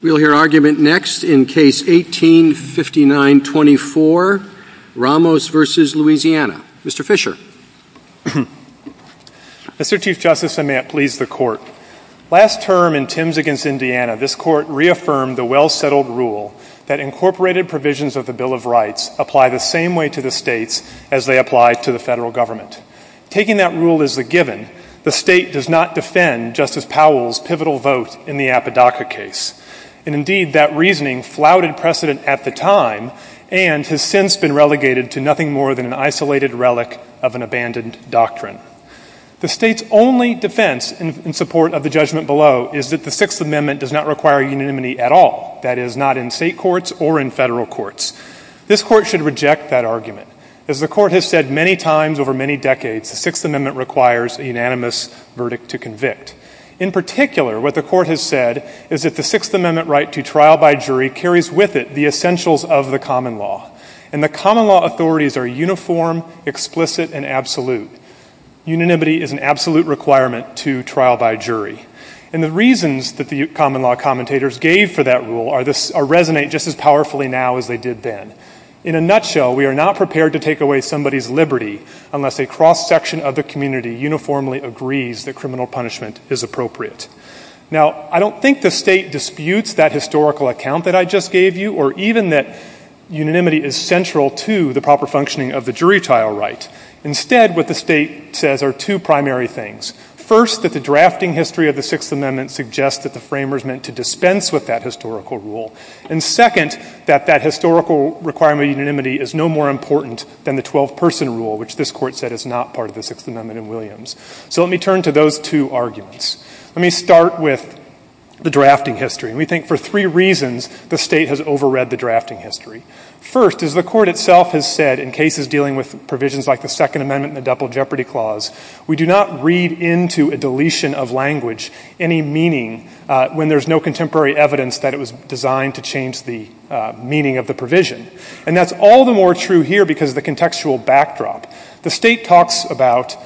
We'll hear argument next in Case 18-5924, Ramos v. Louisiana. Mr. Fischer. Mr. Chief Justice, and may it please the Court, last term in Timms v. Indiana, this Court reaffirmed the well-settled rule that incorporated provisions of the Bill of Rights apply the same way to the states as they apply to the federal government. Taking that rule as the case, and indeed that reasoning flouted precedent at the time, and has since been relegated to nothing more than an isolated relic of an abandoned doctrine. The state's only defense in support of the judgment below is that the Sixth Amendment does not require unanimity at all. That is, not in state courts or in federal courts. This Court should reject that argument. As the Court has said many times over many decades, the Sixth Amendment requires a unanimous verdict to convict. In particular, what the Court has said is that the Sixth Amendment right to trial by jury carries with it the essentials of the common law. And the common law authorities are uniform, explicit, and absolute. Unanimity is an absolute requirement to trial by jury. And the reasons that the common law commentators gave for that rule resonate just as powerfully now as they did then. In a nutshell, we are not prepared to take away somebody's liberty unless a cross-section of the community uniformly agrees that criminal punishment is appropriate. Now, I don't think the state disputes that historical account that I just gave you, or even that unanimity is central to the proper functioning of the jury trial right. Instead, what the state says are two primary things. First, that the drafting history of the Sixth Amendment suggests that the framers meant to dispense with that historical rule. And second, that that historical requirement of unanimity is no more important than the 12-person rule, which this Court said is not part of the Sixth Amendment in Williams. So let me turn to those two arguments. Let me start with the drafting history. And we think for three reasons the state has overread the drafting history. First, as the Court itself has said in cases dealing with provisions like the Second Amendment and the Double Jeopardy Clause, we do not read into a deletion of language any meaning when there's no contemporary evidence that it was designed to change the meaning of the provision. And that's all the more true here because of the contextual backdrop. The state talks about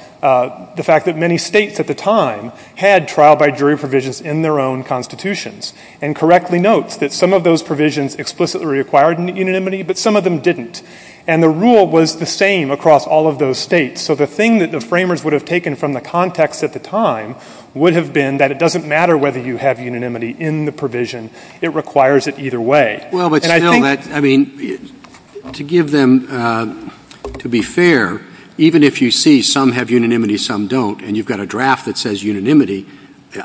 the fact that many states at the time had trial-by-jury provisions in their own constitutions and correctly notes that some of those provisions explicitly required unanimity, but some of them didn't. And the rule was the same across all of those states. So the thing that the framers would have taken from the context at the time would have been that it doesn't matter whether you have unanimity in the provision. It requires it either way. Well, but still, I mean, to give them, to be fair, even if you see some have unanimity, some don't, and you've got a draft that says unanimity,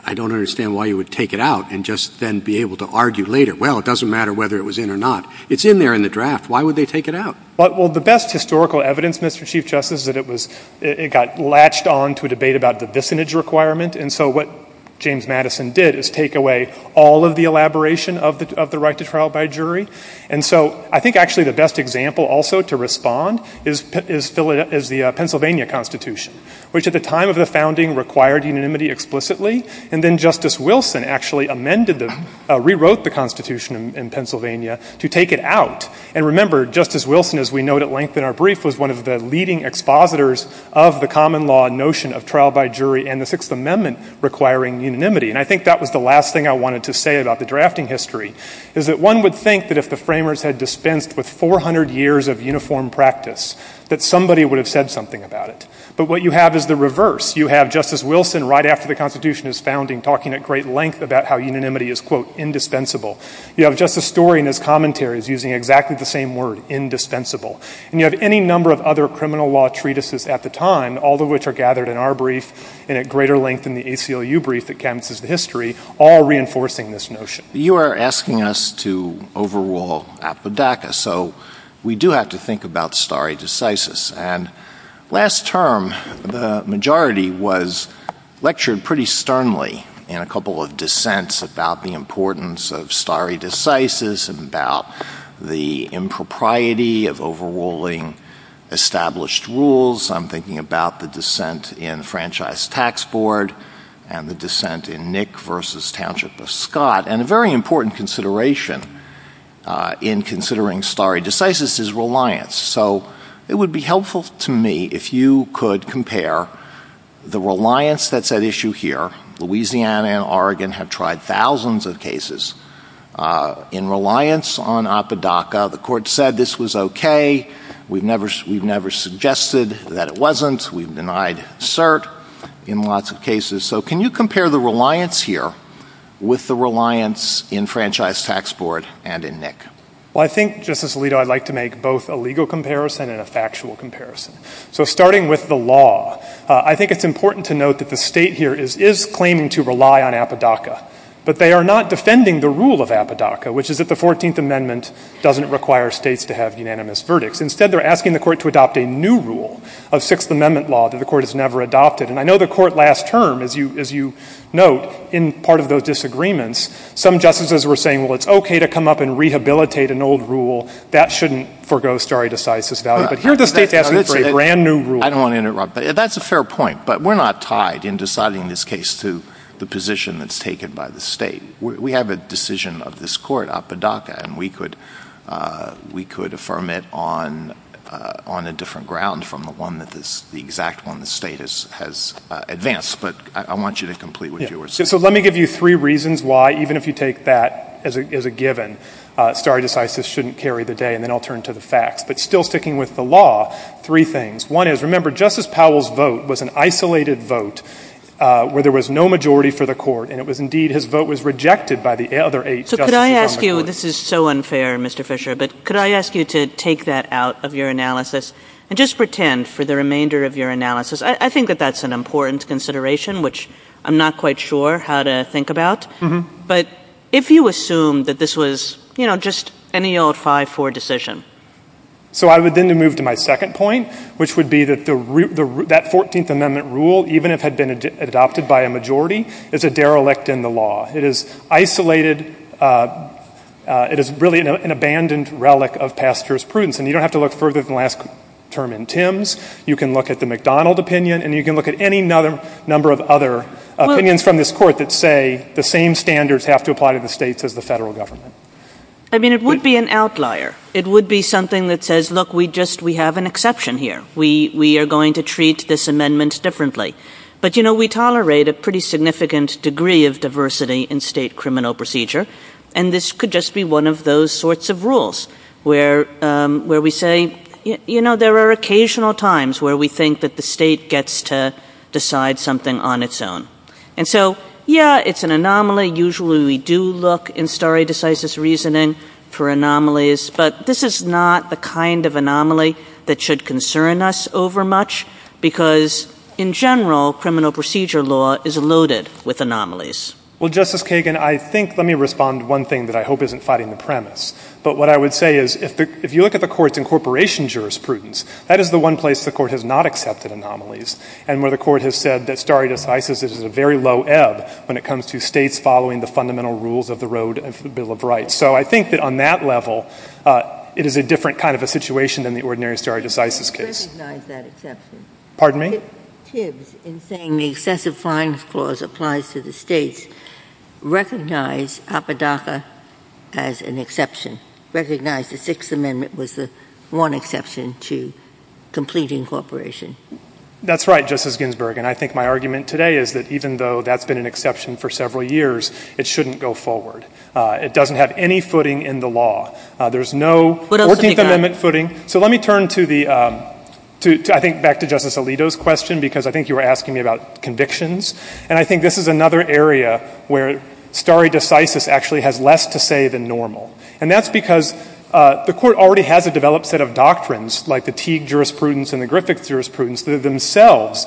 I don't understand why you would take it out and just then be able to argue later, well, it doesn't matter whether it was in or not. It's in there in the draft. Why would they take it out? Well, the best historical evidence, Mr. Chief Justice, is that it was — it got latched on to a debate about the dissonance requirement. And so what James Madison did is take away all of the elaboration of the right to trial by jury. And so I think actually the best example also to respond is the Pennsylvania Constitution, which at the time of the founding required unanimity explicitly. And then Justice Wilson actually amended the — rewrote the Constitution in Pennsylvania to take it out. And remember, Justice Wilson, as we note at length in our brief, was one of the leading expositors of the common law notion of trial by jury and the Sixth Amendment requiring unanimity. And I think that was the last thing I wanted to say about the drafting history, is that one would think that if the framers had dispensed with 400 years of uniform practice, that somebody would have said something about it. But what you have is the reverse. You have Justice Wilson right after the Constitution is founding talking at great length about how unanimity is, quote, indispensable. You have Justice Story in his commentaries using exactly the same word, indispensable. And you have any number of other criminal law treatises at the time, all of which are gathered in our brief and at greater length in the ACLU brief that canvasses the history, all reinforcing this notion. You are asking us to overrule Appadakus. So we do have to think about stare decisis. And last term, the majority was lectured pretty sternly in a couple of dissents about the importance of stare decisis and about the impropriety of overruling established rules. I'm thinking about the dissent in the Franchise Tax Board and the dissent in Nick v. Township v. Scott. And a very important consideration in considering stare decisis is reliance. So it would be helpful to me if you could compare the reliance that's at issue here. Louisiana and Oregon have tried thousands of cases in reliance on Appadakus. The court said this was okay. We've never suggested that it wasn't. We've denied cert in lots of cases. So can you compare the reliance here with the reliance in Franchise Tax Board and in Nick? Well, I think, Justice Alito, I'd like to make both a legal comparison and a factual comparison. So starting with the law, I think it's important to note that the State here is claiming to rely on Appadakus. But they are not defending the rule of Appadakus, which is that the Fourteenth Amendment doesn't require States to have unanimous verdicts. Instead, they're asking the Court to adopt a new rule of Sixth Amendment law that the Court has never adopted. And I know the Court last term, as you note, in part of those disagreements, some justices were saying, well, it's okay to come up and rehabilitate an old rule. That shouldn't forego stare decisis value. But here the State's asking for a brand new rule. I don't want to interrupt. That's a fair point. But we're not tied in deciding this case to the position that's taken by the State. We have a decision of this Court, Appadakus, and we could affirm it on a different ground from the one that the exact one the State has advanced. But I want you to complete what you were saying. So let me give you three reasons why, even if you take that as a given, stare decisis shouldn't carry the day. And then I'll turn to the facts. But still sticking with the law, three things. One is, remember, Justice Powell's vote was an isolated vote where there was no majority for the Court. And it was, indeed, his vote was rejected by the other eight justices on the Court. So could I ask you, this is so unfair, Mr. Fisher, but could I ask you to take that out of your analysis and just pretend for the remainder of your analysis, I think that that's an important consideration, which I'm not quite sure how to think about. But if you assume that this was, you know, just any old 5-4 decision. So I would then move to my second point, which would be that that 14th Amendment rule, even if had been adopted by a majority, is a derelict in the law. It is isolated. It is really an abandoned relic of past jurisprudence. And you don't have to look further than the last term in Timms. You can look at the McDonald opinion. And you can look at any number of other opinions from this Court that say the same standards have to apply to the states as the federal government. I mean, it would be an outlier. It would be something that says, look, we just, we have an exception here. We are going to treat this amendment differently. But, you know, we tolerate a pretty significant degree of diversity in state criminal procedure. And this could just be one of those sorts of rules where we say, you know, there are occasional times where we think that the state gets to decide something on its own. And so, yeah, it's an anomaly. Usually we do look in stare decisis reasoning for anomalies. But this is not the kind of anomaly that should concern us over much. Because, in general, criminal procedure law is loaded with anomalies. Well, Justice Kagan, I think, let me respond to one thing that I hope isn't fighting the premise. But what I would say is, if you look at the Court's incorporation jurisprudence, that is the one place the Court has not accepted anomalies. And where the Court has said that stare decisis is a very low ebb when it comes to states following the fundamental rules of the road of the Bill of Rights. So I think that, on that level, it is a different kind of a situation than the ordinary stare decisis case. Recognize that exception. Pardon me? Tibbs, in saying the excessive fines clause applies to the states, recognize Apodaca as an exception. Recognize the Sixth Amendment was the one exception to complete incorporation. That's right, Justice Ginsburg. And I think my argument today is that, even though that's been an exception for several years, it shouldn't go forward. It doesn't have any footing in the law. There's no Fourteenth Amendment footing. So let me turn to the, I think, back to Justice Alito's question, because I think you were asking me about convictions. And I think this is another area where stare decisis actually has less to say than normal. And that's because the Court already has a developed set of doctrines, like the Teague jurisprudence and the Griffith jurisprudence, that are themselves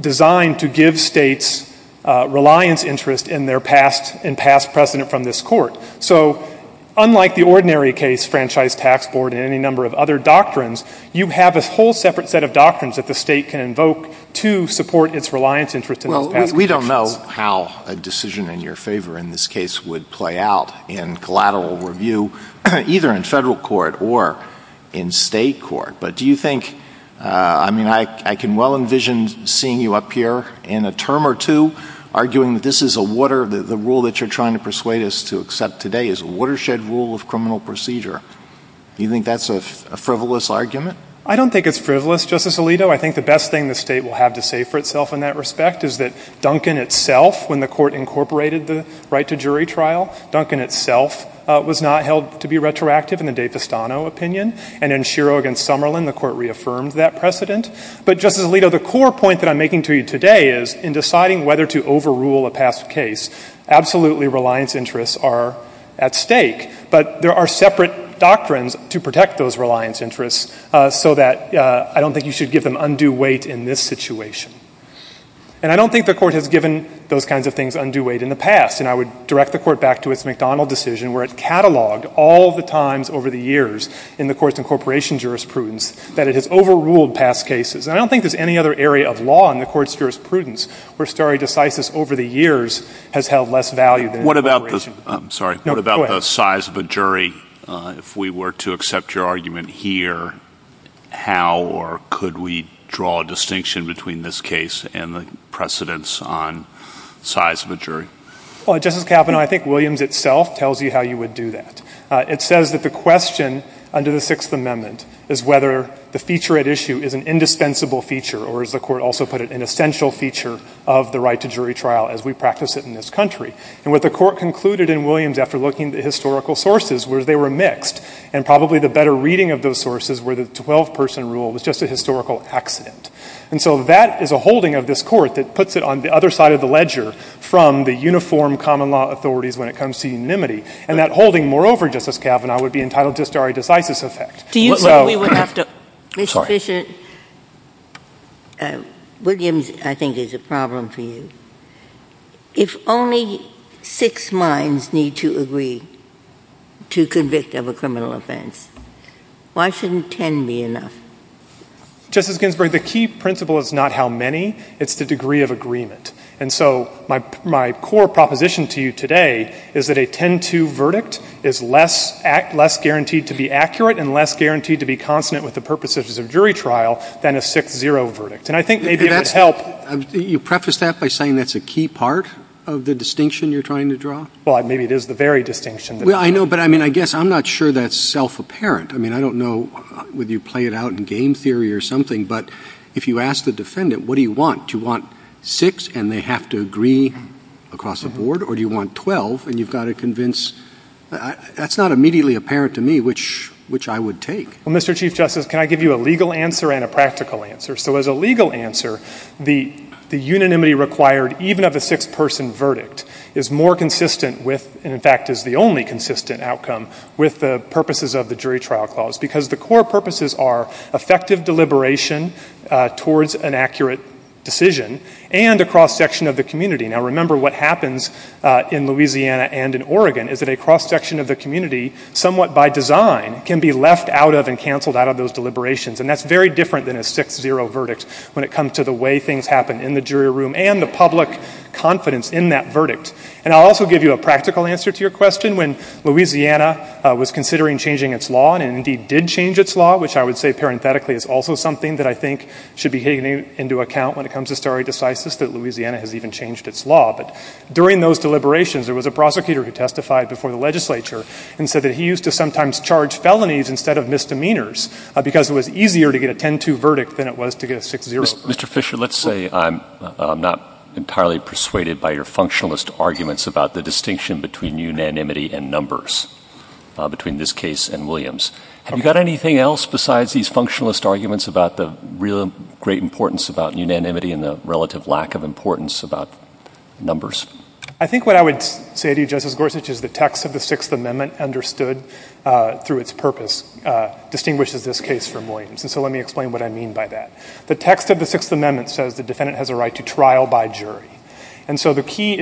designed to give states reliance interest in their past and past precedent from this Court. So unlike the ordinary case, franchise, tax board, and any number of other doctrines, you have a whole separate set of doctrines that the state can invoke to support its reliance interest in those past convictions. Well, we don't know how a decision in your favor in this case would play out in collateral review, either in Federal court or in State court. But do you think, I mean, I can well envision seeing you up here in a term or two arguing that this is a water, the rule that you're trying to persuade us to accept today is a watershed rule of criminal procedure. You think that's a frivolous argument? I don't think it's frivolous, Justice Alito. I think the best thing the state will have to say for itself in that respect is that Duncan itself, when the Court incorporated the right to jury trial, Duncan itself was not held to be retroactive in the DeFestano opinion. And in Schiro v. Summerlin, the Court reaffirmed that precedent. But Justice Alito, the core point that I'm making to you today is in deciding whether to overrule a past case, absolutely reliance interests are at stake. But there are separate doctrines to protect those reliance interests so that I don't think you should give them undue weight in this situation. And I don't think the Court has given those kinds of things undue weight in the past. And I would direct the Court back to its McDonald decision where it cataloged all the times over the years in the Court's incorporation jurisprudence that it has overruled past cases. And I don't think there's any other area of law in the Court's jurisprudence where stare decisis over the years has held less value than incorporation. What about the size of a jury? If we were to accept your argument here, how or could we draw a distinction between this case and the precedence on size of a jury? Well, Justice Kavanaugh, I think Williams itself tells you how you would do that. It says that the question under the Sixth Amendment is whether the feature at issue is an indispensable feature or, as the Court also put it, an essential feature of the right to jury trial as we practice it in this country. And what the Court concluded in Williams after looking at the historical sources was they were mixed. And probably the better reading of those sources were the 12-person rule was just a historical accident. And so that is a holding of this Court that puts it on the other side of the ledger from the uniform common law authorities when it comes to unanimity. And that holding, moreover, Justice Kavanaugh, would be entitled just to a stare decisis effect. Do you think we would have to— Mr. Fisher, Williams, I think, is a problem for you. If only six minds need to agree to convict of a criminal offense, why shouldn't 10 be enough? Justice Ginsburg, the key principle is not how many. It's the degree of agreement. And so my core proposition to you today is that a 10-2 verdict is less guaranteed to be accurate and less guaranteed to be consonant with the purposes of jury trial than a 6-0 verdict. And I think maybe it would help— You preface that by saying that's a key part of the distinction you're trying to draw? Well, maybe it is the very distinction. Well, I know, but I mean, I guess I'm not sure that's self-apparent. I mean, I don't know whether you play it out in game theory or something, but if you ask the defendant, what do you want? Do you want six and they have to agree across the board, or do you want 12 and you've got to convince—that's not immediately apparent to me, which I would take. Well, Mr. Chief Justice, can I give you a legal answer and a practical answer? So as a legal answer, the unanimity required even of a six-person verdict is more consistent with, and in fact is the only consistent outcome, with the purposes of the jury trial clause. Because the core purposes are effective deliberation towards an accurate decision and a cross-section of the community. Now remember, what happens in Louisiana and in Oregon is that a cross-section of the community, somewhat by design, can be left out of and canceled out of those deliberations. And that's very different than a 6-0 verdict when it comes to the way things happen in the jury room and the public confidence in that verdict. And I'll also give you a practical answer to your question. When Louisiana was considering changing its law, and it indeed did change its law, which I would say parenthetically is also something that I think should be taken into account when it comes to stare decisis that Louisiana has even changed its law. But during those deliberations, there was a prosecutor who testified before the legislature and said that he used to sometimes charge felonies instead of misdemeanors because it was easier to get a 10-2 verdict than it was to get a 6-0. Mr. Fisher, let's say I'm not entirely persuaded by your functionalist arguments about the distinction between unanimity and numbers, between this case and Williams. Have you got anything else besides these functionalist arguments about the real great importance about unanimity and the relative lack of importance about numbers? I think what I would say to you, Justice Gorsuch, is the text of the Sixth Amendment, understood through its purpose, distinguishes this case from Williams. And so let me explain what I mean by that. The text of the Sixth Amendment says the defendant has a right to trial by jury. And from history,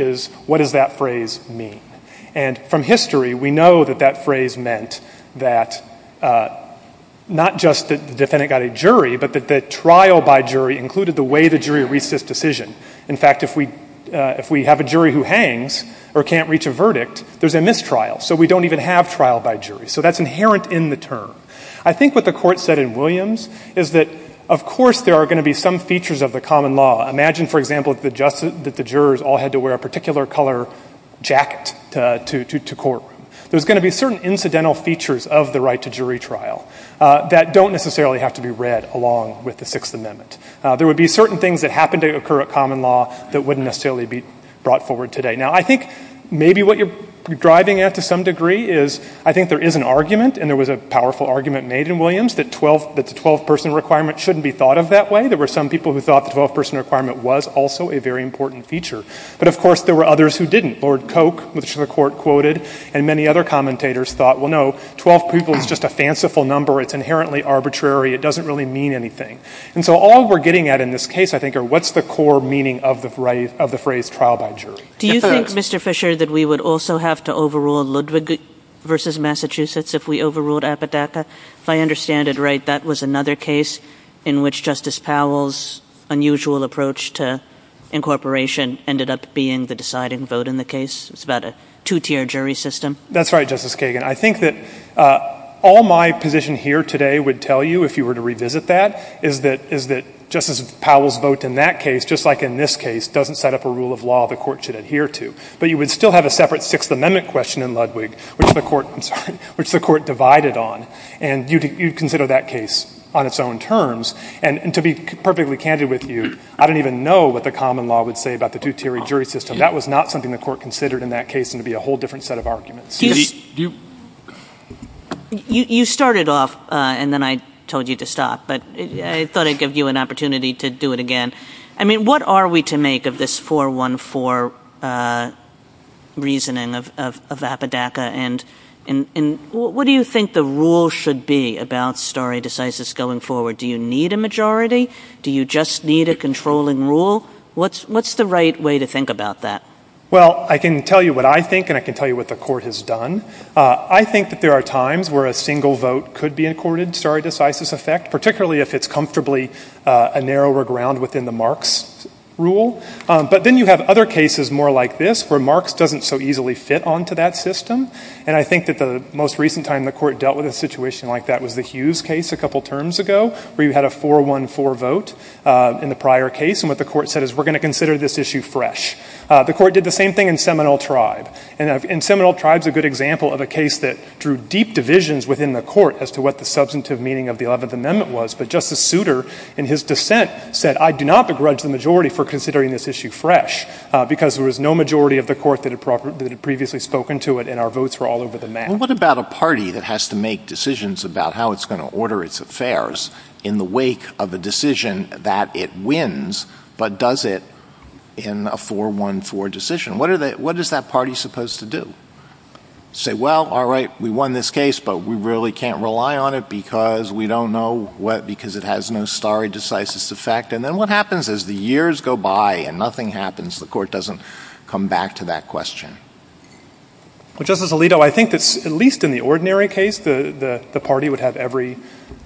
we know that that phrase meant that not just that the defendant got a jury, but that the trial by jury included the way the jury reached its decision. In fact, if we have a jury who hangs or can't reach a verdict, there's a mistrial. So we don't even have trial by jury. So that's inherent in the term. I think what the Court said in Williams is that, of course, there are going to be some features of the common law. Imagine, for example, that the jurors all had to wear a particular color jacket to courtroom. There's going to be certain incidental features of the right to jury trial that don't necessarily have to be read along with the Sixth Amendment. There would be certain things that happened to occur at common law that wouldn't necessarily be brought forward today. Now, I think maybe what you're driving at, to some degree, is I think there is an argument, and there was a powerful argument made in Williams, that the 12-person requirement shouldn't be thought of that way. There were some people who thought the 12-person requirement was also a very important feature. But, of course, there were others who didn't. Lord Coke, which the Court quoted, and many other commentators thought, well, no, 12 people is just a fanciful number. It's inherently arbitrary. It doesn't really mean anything. And so all we're getting at in this case, I think, are what's the core meaning of the phrase trial by jury. If it is. Do you think, Mr. Fisher, that we would also have to overrule Ludwig v. Massachusetts if we overruled Apodaca? If I understand it right, that was another case in which Justice Powell's unusual approach to incorporation ended up being the deciding vote in the case. It's about a two-tier jury system. That's right, Justice Kagan. I think that all my position here today would tell you, if you were to revisit that, is that Justice Powell's vote in that case, just like in this case, doesn't set up a rule of law the Court should adhere to. But you would still have a separate Sixth Amendment question in Ludwig, which the Court divided on. And you'd consider that case on its own terms. And to be perfectly candid with you, I don't even know what the common law would say about the two-tier jury system. That was not something the Court considered in that case, and it would be a whole different set of arguments. You started off, and then I told you to stop. But I thought I'd give you an opportunity to do it again. I mean, what are we to make of this 414 reasoning of Apodaca? And what do you think the rule should be about stare decisis going forward? Do you need a majority? Do you just need a controlling rule? What's the right way to think about that? Well, I can tell you what I think, and I can tell you what the Court has done. I think that there are times where a single vote could be accorded stare decisis effect, particularly if it's comfortably a narrower ground within the Marx rule. But then you have other cases more like this, where Marx doesn't so easily fit onto that system. And I think that the most recent time the Court dealt with a situation like that was the Hughes case a couple terms ago, where you had a 414 vote in the prior case. And what the Court said is, we're going to consider this issue fresh. The Court did the same thing in Seminole Tribe. And Seminole Tribe's a good example of a case that drew deep divisions within the Court as to what the substantive meaning of the Eleventh Amendment was. But Justice Souter, in his dissent, said, I do not begrudge the majority for considering this issue fresh, because there was no majority of the Court What about a party that has to make decisions about how it's going to order its affairs in the wake of a decision that it wins, but does it in a 414 decision? What is that party supposed to do? Say, well, all right, we won this case, but we really can't rely on it because we don't know what, because it has no stare decisis effect. And then what happens as the years go by and nothing happens? The Court doesn't come back to that question. Well, Justice Alito, I think that at least in the ordinary case, the party would have every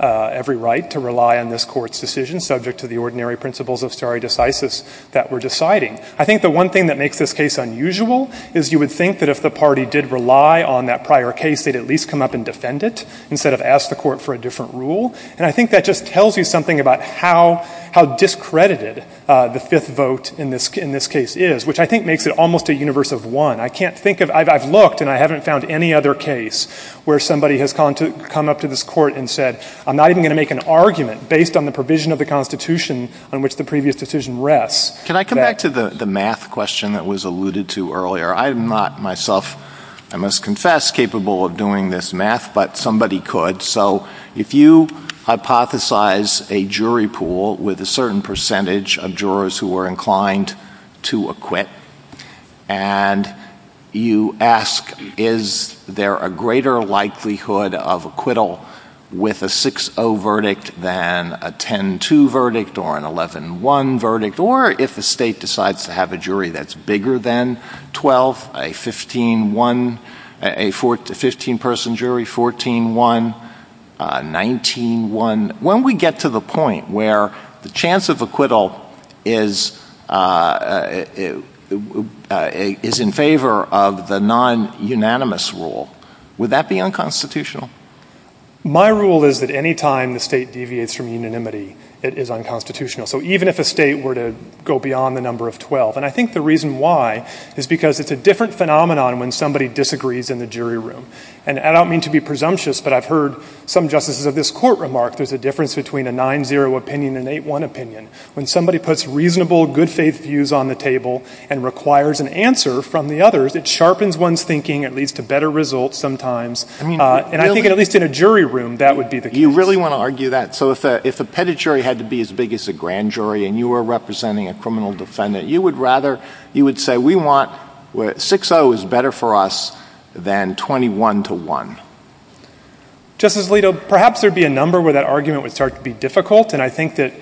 right to rely on this Court's decision, subject to the ordinary principles of stare decisis that we're deciding. I think the one thing that makes this case unusual is you would think that if the party did rely on that prior case, they'd at least come up and defend it instead of ask the Court for a different rule. And I think that just tells you something about how discredited the fifth vote in this case is, which I think makes it almost a universe of one. I can't think of, I've looked and I haven't found any other case where somebody has come up to this Court and said, I'm not even going to make an argument based on the provision of the Constitution on which the previous decision rests. Can I come back to the math question that was alluded to earlier? I am not myself, I must confess, capable of doing this math, but somebody could. So if you hypothesize a jury pool with a certain percentage of jurors who are inclined to acquit, and you ask is there a greater likelihood of acquittal with a 6-0 verdict than a 10-2 verdict or an 11-1 verdict, or if the state decides to have a jury that's bigger than 12, a 15-1, a 15-person jury, to the point where the chance of acquittal is in favor of the non-unanimous rule, would that be unconstitutional? My rule is that any time the state deviates from unanimity, it is unconstitutional. So even if a state were to go beyond the number of 12, and I think the reason why is because it's a different phenomenon when somebody disagrees in the jury room. And I don't mean to be presumptuous, but I've heard some justices of this Court remark there's a difference between a 9-0 opinion and an 8-1 opinion. When somebody puts reasonable, good-faith views on the table and requires an answer from the others, it sharpens one's thinking and leads to better results sometimes. And I think at least in a jury room, that would be the case. You really want to argue that? So if the pedigree had to be as big as a grand jury and you were representing a criminal defendant, you would rather, you would say we want, 6-0 is better for us than 21-1. Justice Alito, perhaps there would be a number where that argument would start to be difficult, and I think that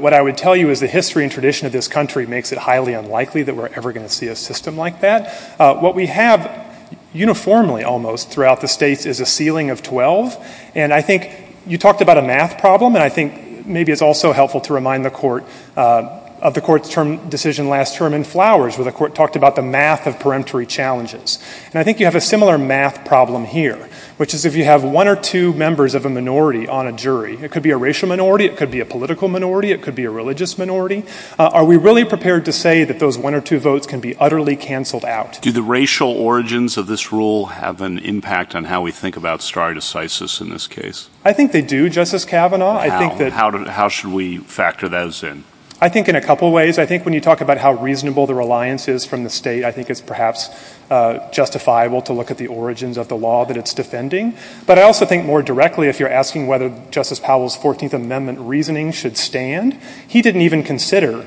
what I would tell you is the history and tradition of this country makes it highly unlikely that we're ever going to see a system like that. What we have uniformly almost throughout the states is a ceiling of 12, and I think you talked about a math problem, and I think maybe it's also helpful to remind the Court of the Court's decision last term in Flowers, where the Court talked about the math of peremptory challenges. And I think you have a similar math problem here, which is if you have one or two members of a minority on a jury, it could be a racial minority, it could be a political minority, it could be a religious minority, are we really prepared to say that those one or two votes can be utterly canceled out? Do the racial origins of this rule have an impact on how we think about stare decisis in this case? I think they do, Justice Kavanaugh. How? How should we factor those in? I think in a couple ways. I think when you talk about how reasonable the reliance is from the state, I think it's perhaps justifiable to look at the origins of the law that it's defending. But I also think more directly, if you're asking whether Justice Powell's 14th Amendment reasoning should stand, he didn't even consider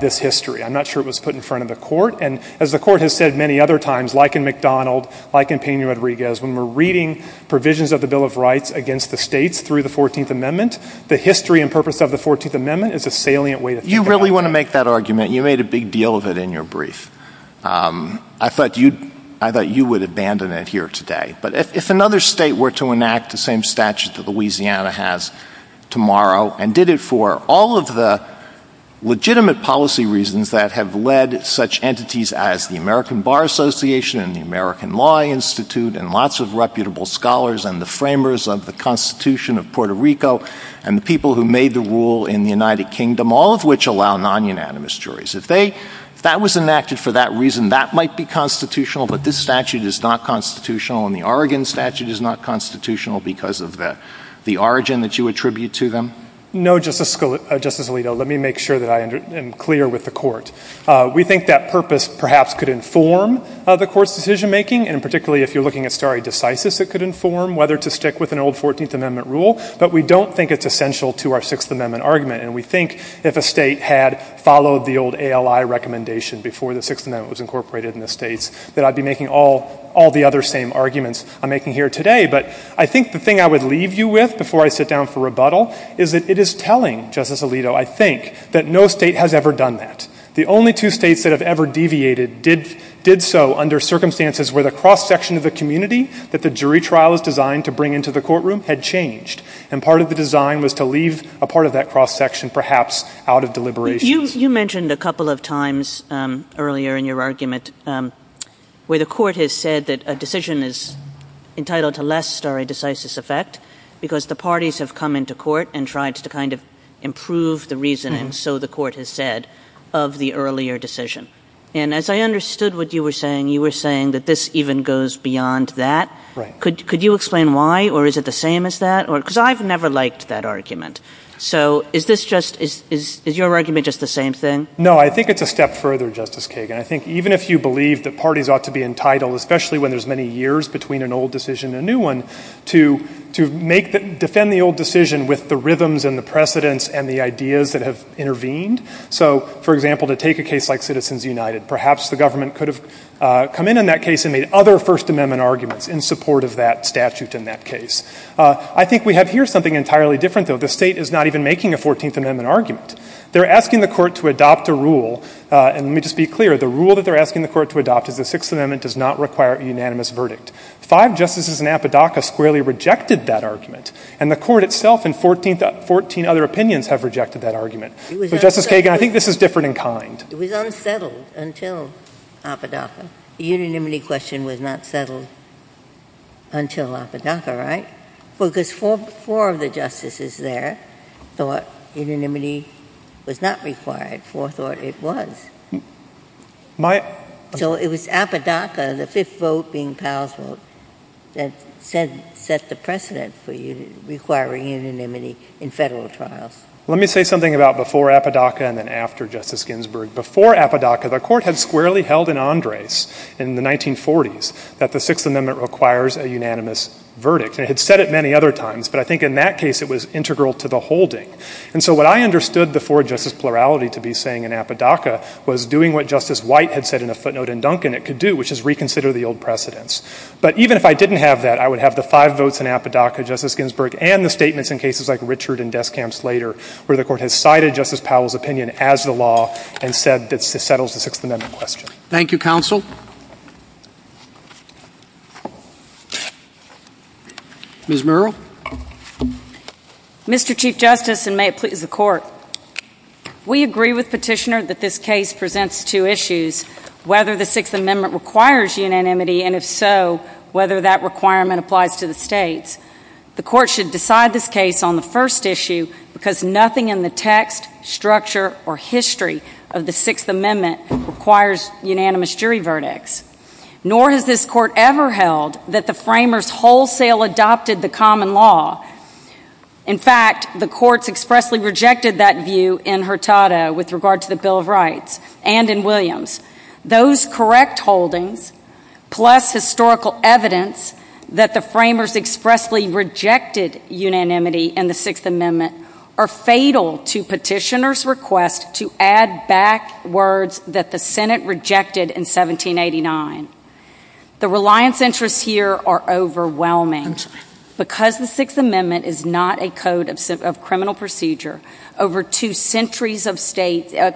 this history. I'm not sure it was put in front of the Court. And as the Court has said many other times, like in McDonald, like in Peña-Rodriguez, when we're reading provisions of the Bill of Rights against the states through the 14th Amendment, the history and purpose of the 14th Amendment is a salient way to think about it. You really want to make that argument. You made a big deal of it in your brief. I thought you would abandon it here today. But if another state were to enact the same statute that Louisiana has tomorrow and did it for all of the legitimate policy reasons that have led such entities as the American Bar Association and the American Law Institute and lots of reputable scholars and the framers of the Constitution of Puerto Rico and the people who made the rule in the United Kingdom, all of which allow non-unanimous juries, if that was enacted for that reason, that might be constitutional, but this statute is not constitutional and the Oregon statute is not constitutional because of the origin that you attribute to them? No, Justice Alito. Let me make sure that I am clear with the Court. We think that purpose perhaps could inform the Court's decision making, and particularly if you're looking at stare decisis, it could inform whether to stick with an old 14th Amendment rule. But we don't think it's essential to our Sixth Amendment argument, and we think if a state had followed the old ALI recommendation before the Sixth Amendment was incorporated in the states that I'd be making all the other same arguments I'm making here today. But I think the thing I would leave you with before I sit down for rebuttal is that it is telling, Justice Alito, I think, that no state has ever done that. The only two states that have ever deviated did so under circumstances where the cross-section of the community that the And part of the design was to leave a part of that cross-section perhaps out of deliberation. You mentioned a couple of times earlier in your argument where the Court has said that a decision is entitled to less stare decisis effect because the parties have come into court and tried to kind of improve the reasoning, so the Court has said, of the earlier decision. And as I understood what you were saying, you were saying that this even goes beyond that. Could you explain why or is it the same as that? Because I've never liked that argument. So is this just, is your argument just the same thing? No, I think it's a step further, Justice Kagan. I think even if you believe that parties ought to be entitled, especially when there's many years between an old decision and a new one, to make, defend the old decision with the rhythms and the precedents and the ideas that have intervened. So, for example, to take a case like Citizens United, perhaps the government could have come in on that case and made other First Amendment arguments in support of that statute in that case. I think we have here something entirely different, though. The State is not even making a Fourteenth Amendment argument. They're asking the Court to adopt a rule, and let me just be clear, the rule that they're asking the Court to adopt is the Sixth Amendment does not require a unanimous verdict. Five justices in Appadacka squarely rejected that argument, and the Court itself and 14 other opinions have rejected that argument. So, Justice Kagan, I think this is different in kind. It was unsettled until Appadacka. The unanimity question was not settled until Appadacka, right? Well, because four of the justices there thought unanimity was not required. Four thought it was. So, it was Appadacka, the fifth vote being Powell's vote, that set the precedent for requiring unanimity in federal trials. Let me say something about before Appadacka and then after Justice Ginsburg. Before Appadacka, the Court had squarely held in Andres in the 1940s that the Sixth Amendment requires a unanimous verdict. It had said it many other times, but I think in that case it was integral to the holding. And so, what I understood the four-justice plurality to be saying in Appadacka was doing what Justice White had said in a footnote in Duncan it could do, which is reconsider the old precedents. But even if I didn't have that, I would have the five votes in Appadacka, Justice Ginsburg, and the statements in cases like Richard and Richard, where the Court has cited Justice Powell's opinion as the law and said it settles the Sixth Amendment question. Thank you, Counsel. Ms. Murrell. Mr. Chief Justice, and may it please the Court, we agree with Petitioner that this case presents two issues, whether the Sixth Amendment requires unanimity, and if so, whether that requirement applies to the states. The Court should decide this case on the first issue because nothing in the text, structure, or history of the Sixth Amendment requires unanimous jury verdicts. Nor has this Court ever held that the framers wholesale adopted the common law. In fact, the courts expressly rejected that view in Hurtado with regard to the Bill of Rights and in Williams. Those correct holdings, plus historical evidence that the framers expressly rejected unanimity in the Sixth Amendment, are fatal to Petitioner's request to add back words that the Senate rejected in 1789. The reliance interests here are overwhelming. Because the Sixth Amendment is not a code of criminal procedure, for two centuries states have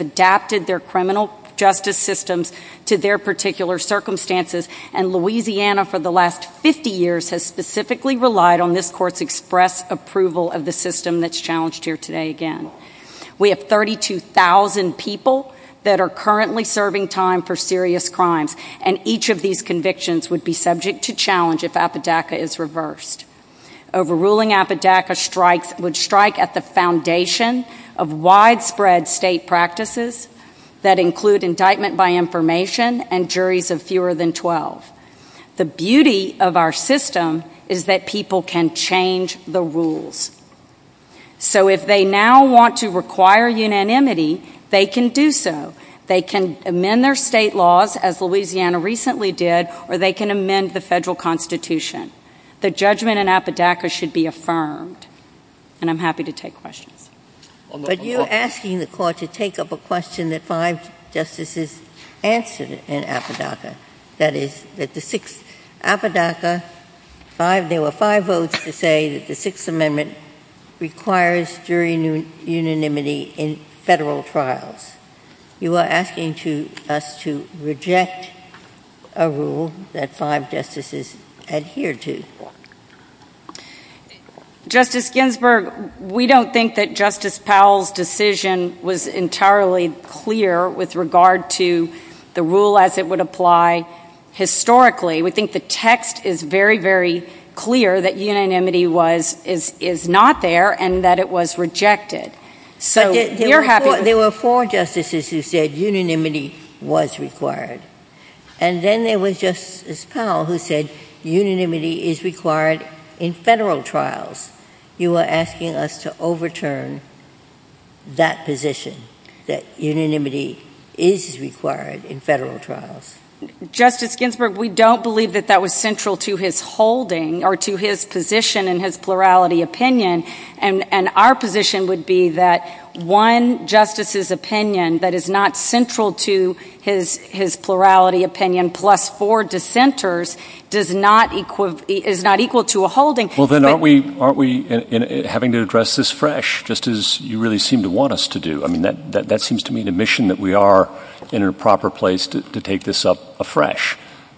adapted their criminal justice systems to their particular circumstances, and Louisiana for the last 50 years has specifically relied on this Court's express approval of the system that's challenged here today again. We have 32,000 people that are currently serving time for serious crimes, and each of these convictions would be subject to challenge if Apodaca is reversed. Overruling Apodaca would strike at the foundation of widespread state practices that include indictment by information and juries of fewer than 12. The beauty of our system is that people can change the rules. So if they now want to require unanimity, they can do so. They can amend their state laws, as Louisiana recently did, or they can amend the federal Constitution. The judgment in Apodaca should be affirmed. And I'm happy to take questions. But you're asking the Court to take up a question that five justices answered in Apodaca, that is, that the Sixth — Apodaca, five — there were five votes to say that the Sixth Amendment requires jury unanimity in federal trials. You are asking to — us to reject a rule that five justices adhered to. Justice Ginsburg, we don't think that Justice Powell's decision was entirely clear with regard to the rule as it would apply historically. We think the text is very, very clear that unanimity was — is not there and that it was rejected. So we're happy — There were four justices who said unanimity was required. And then there was Justice Powell who said unanimity is required in federal trials. You are asking us to overturn that position that unanimity is required in federal trials. Justice Ginsburg, we don't believe that that was central to his holding or to his position and his plurality opinion. And our position would be that one justice's opinion that is not central to his — his plurality opinion plus four dissenters does not — is not equal to a holding. Well, then, aren't we — aren't we having to address this fresh, just as you really seem to want us to do? I mean, that — that seems to me the mission that we are in a proper place to take this up afresh.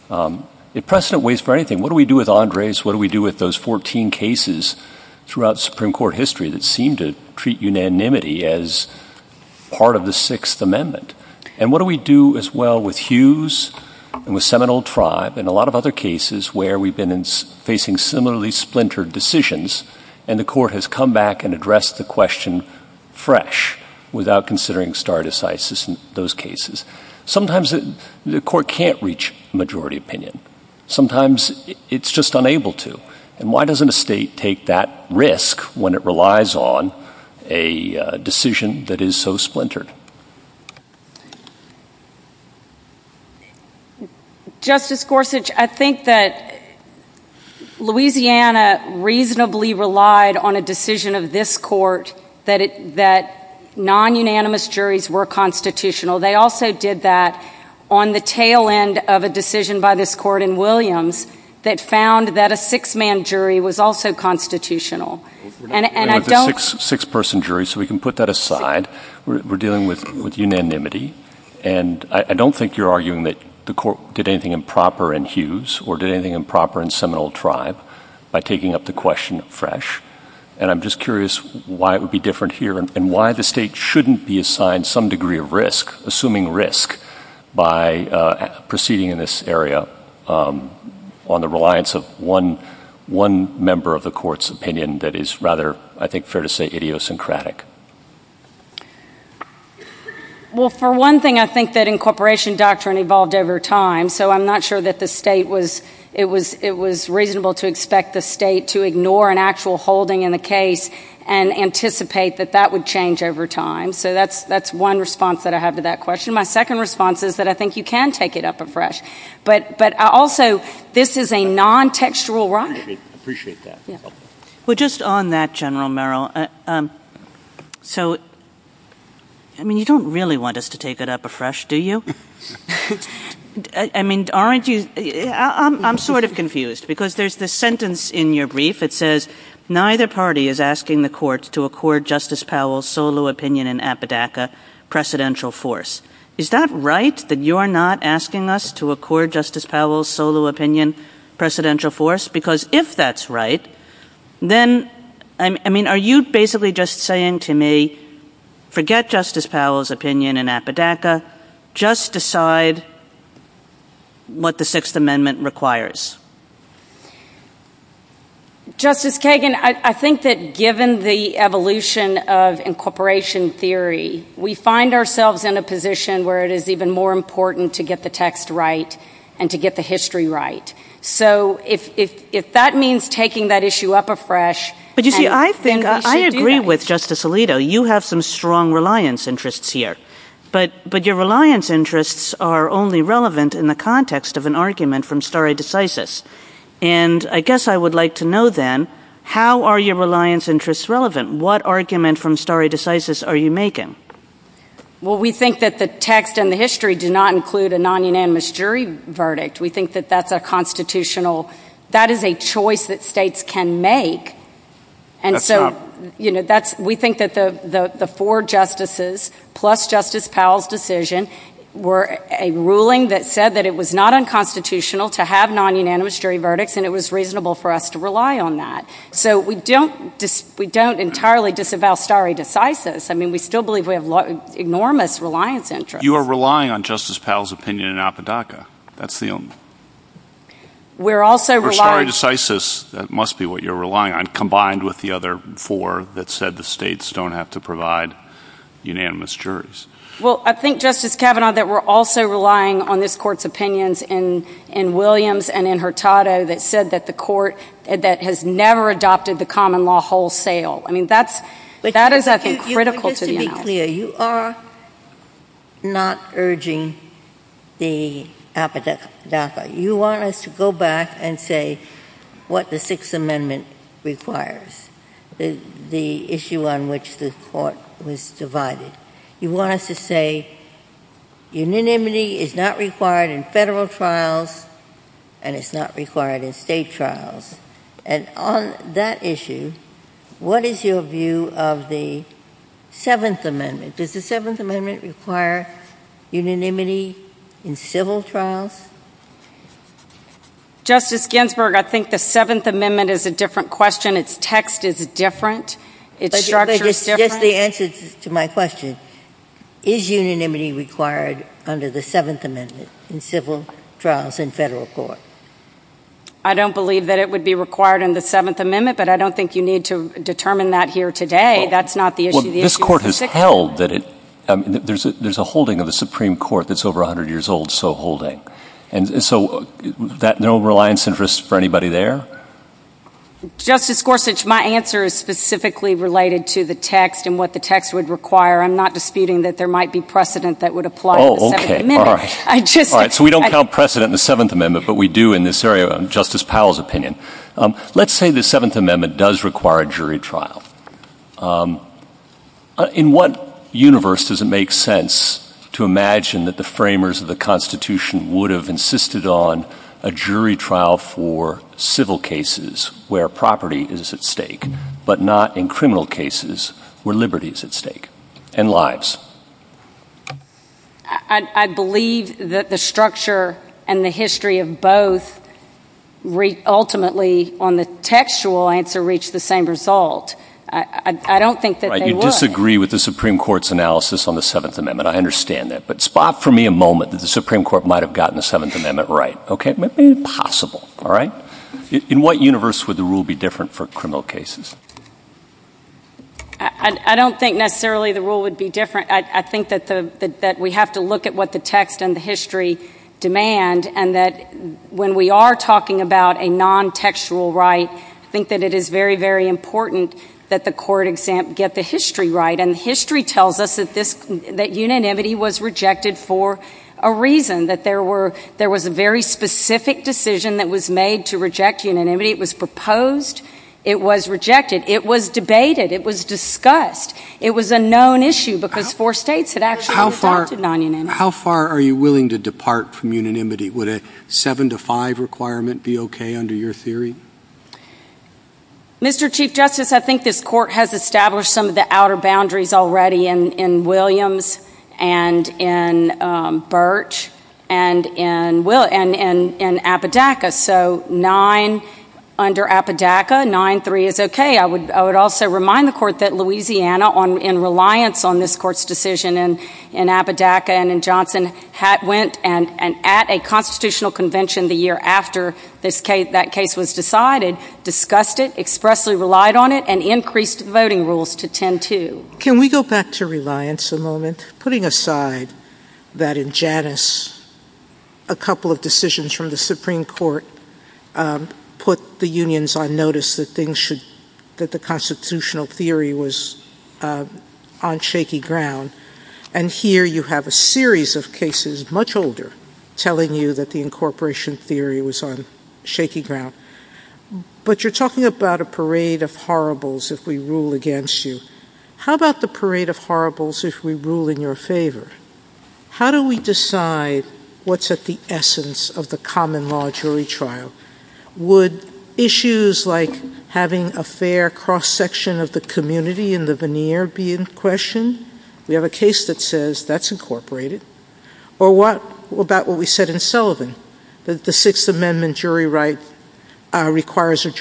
If precedent waits for anything, what do we do with Andres? What do we do with those 14 cases throughout Supreme Court history that seem to treat unanimity as part of the Sixth Amendment? And what do we do as well with Hughes and with Seminole Tribe and a lot of other cases where we've been facing similarly splintered decisions and the court has come back and addressed the question fresh without considering stare decisis in those cases? Sometimes the court can't reach majority opinion. Sometimes it's just unable to. And why doesn't a state take that risk when it relies on a decision that is so splintered? Justice Gorsuch, I think that Louisiana reasonably relied on a decision of this court that non-unanimous juries were constitutional. They also did that on the tail end of a decision by this court that was also constitutional. We're dealing with a six-person jury, so we can put that aside. We're dealing with unanimity. And I don't think you're arguing that the court did anything improper in Hughes or did anything improper in Seminole Tribe by taking up the question fresh. And I'm just curious why it would be different here and why the state shouldn't be assigned some degree of risk, assuming risk, by proceeding in this area on the reliance of one member of the court's opinion that is rather, I think, fair to say idiosyncratic. Well, for one thing, I think that incorporation doctrine evolved over time. So I'm not sure that the state was – it was reasonable to expect the state to ignore an actual holding in the case and anticipate that that would change over time. So that's one response that I have to that question. My second response is that I think you can take it up afresh. But also, this is a non-textual rock. Appreciate that. Yeah. Well, just on that, General Merrill, so – I mean, you don't really want us to take it up afresh, do you? I mean, aren't you – I'm sort of confused, because there's this sentence in your brief. It says, neither party is asking the court to accord Justice Powell's solo opinion in Appadacka precedential force. Is that right, that you're not asking us to Because if that's right, then – I mean, are you basically just saying to me, forget Justice Powell's opinion in Appadacka, just decide what the Sixth Amendment requires? Justice Kagan, I think that given the evolution of incorporation theory, we find ourselves in a position where it is even more important to get the text right and to get the history right. So if that means taking that issue up afresh – But you see, I think – I agree with Justice Alito. You have some strong reliance interests here. But your reliance interests are only relevant in the context of an argument from stare decisis. And I guess I would like to know, then, how are your reliance interests relevant? What argument from stare decisis are you making? Well, we think that the text and the history do not include a non-unanimous jury verdict. We think that that's a constitutional – that is a choice that states can make. And so, we think that the four justices, plus Justice Powell's decision, were a ruling that said that it was not unconstitutional to have non-unanimous jury verdicts, and it was reasonable for us to rely on that. So we don't entirely disavow stare decisis. I mean, we still believe we have enormous reliance interests. You are relying on Justice Powell's opinion in Apodaca. That's the only – We're also relying – For stare decisis, that must be what you're relying on, combined with the other four that said the states don't have to provide unanimous juries. Well, I think, Justice Kavanaugh, that we're also relying on this Court's opinions in Williams and in Hurtado that said that the Court – that has never adopted the common law wholesale. I mean, that's – that is, I think, critical to the analysis. Justice Scalia, you are not urging the Apodaca. You want us to go back and say what the Sixth Amendment requires, the issue on which the Court was divided. You want us to say unanimity is not required in federal trials, and it's not required in state trials. And on that Does the Seventh Amendment require unanimity in civil trials? Justice Ginsburg, I think the Seventh Amendment is a different question. Its text is different. Its structure is different. But just the answer to my question, is unanimity required under the Seventh Amendment in civil trials in federal court? I don't believe that it would be required in the Seventh Amendment, but I don't think you need to determine that here today. That's not the issue. Well, this Court has held that it – there's a holding of the Supreme Court that's over 100 years old, so holding. And so that – no reliance interest for anybody there? Justice Gorsuch, my answer is specifically related to the text and what the text would require. I'm not disputing that there might be precedent that would apply in the Seventh Amendment. Oh, okay. All right. All right. So we don't count precedent in the Seventh Amendment, but we do in this area, in Justice Powell's opinion. Let's say the Seventh Amendment does require a jury trial. In what universe does it make sense to imagine that the framers of the Constitution would have insisted on a jury trial for civil cases where property is at stake, but not in criminal cases where liberty is at stake, and lives? I believe that the structure and the history of both ultimately on the textual answer reach the same result. I don't think that they would. Right. You disagree with the Supreme Court's analysis on the Seventh Amendment. I understand that. But spot for me a moment that the Supreme Court might have gotten the Seventh Amendment right, okay? Make it possible, all right? In what universe would the rule be different for criminal cases? I don't think necessarily the rule would be different. I think that we have to look at what the text and the history demand, and that when we are talking about a non-textual right, I think that it is very, very important that the court get the history right. And history tells us that unanimity was rejected for a reason, that there was a very specific decision that was made to reject unanimity. It was proposed. It was rejected. It was debated. It was discussed. It was a known issue because four states had actually adopted non-unanimity. How far are you willing to depart from unanimity? Would a seven to five requirement be okay under your theory? Mr. Chief Justice, I think this court has established some of the outer boundaries already in Williams and in Birch and in Appadacka. So nine under Appadacka, nine-three is okay. I would also remind the court that Louisiana, in reliance on this court's decision in Appadacka and in Johnson, went at a constitutional convention the year after that case was decided, discussed it, expressly relied on it, and increased the voting rules to ten-two. Can we go back to reliance a moment, putting aside that in Janus, a couple of decisions from the Supreme Court put the unions on notice that the constitutional theory was on shaky ground. And here you have a series of cases, much older, telling you that the incorporation theory was on shaky ground. But you're talking about a parade of horribles if we rule against you. How about the parade of horribles if we rule in your favor? How do we decide what's at the essence of the common law jury trial? Would issues like having a fair cross-section of the community in the veneer be in question? We have a case that says that's incorporated. Or what about what we said in Sullivan, that the Sixth Amendment jury right requires a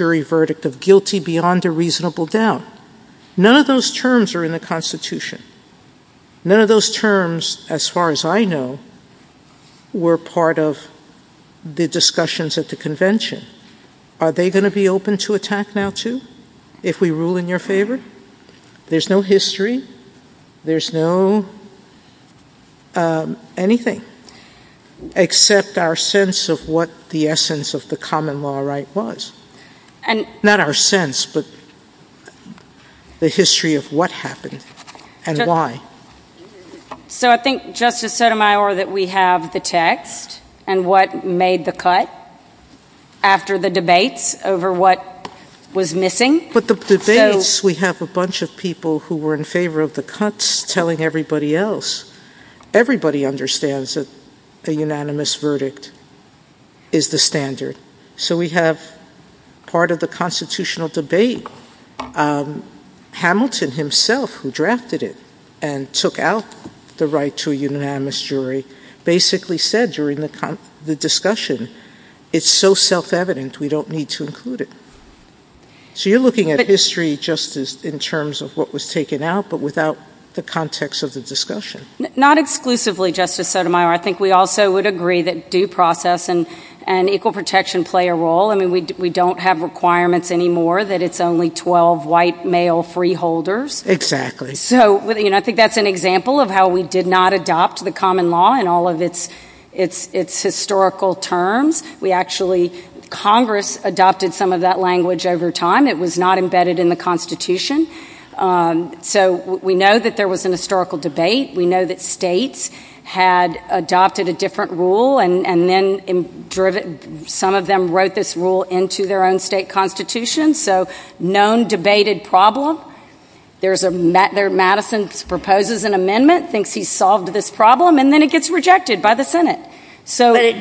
None of those terms are in the Constitution. None of those terms, as far as I know, were part of the discussions at the convention. Are they going to be open to attack now, too, if we rule in your favor? There's no history. There's no anything except our sense of what the essence of the common law right was. Not our sense, but the history of what happened and why. So I think, Justice Sotomayor, that we have the text and what made the cut after the debates over what was missing. But the debates, we have a bunch of people who were in favor of the cuts telling everybody else. Everybody understands that a unanimous verdict is the standard. So we have part of the constitutional debate. Hamilton himself, who drafted it and took out the right to a unanimous jury, basically said during the discussion, it's so self-evident we don't need to include it. So you're looking at history, Justice, in terms of what was in the context of the discussion. Not exclusively, Justice Sotomayor. I think we also would agree that due process and equal protection play a role. I mean, we don't have requirements anymore that it's only 12 white male freeholders. Exactly. So, you know, I think that's an example of how we did not adopt the common law in all of its historical terms. Congress adopted some of that language over time. It was not embedded in the Constitution. So we know that there was an historical debate. We know that states had adopted a different rule and then some of them wrote this rule into their own state constitution. So known debated problem. There's a Madison proposes an amendment, thinks he's solved this problem, and then it gets rejected by the Senate.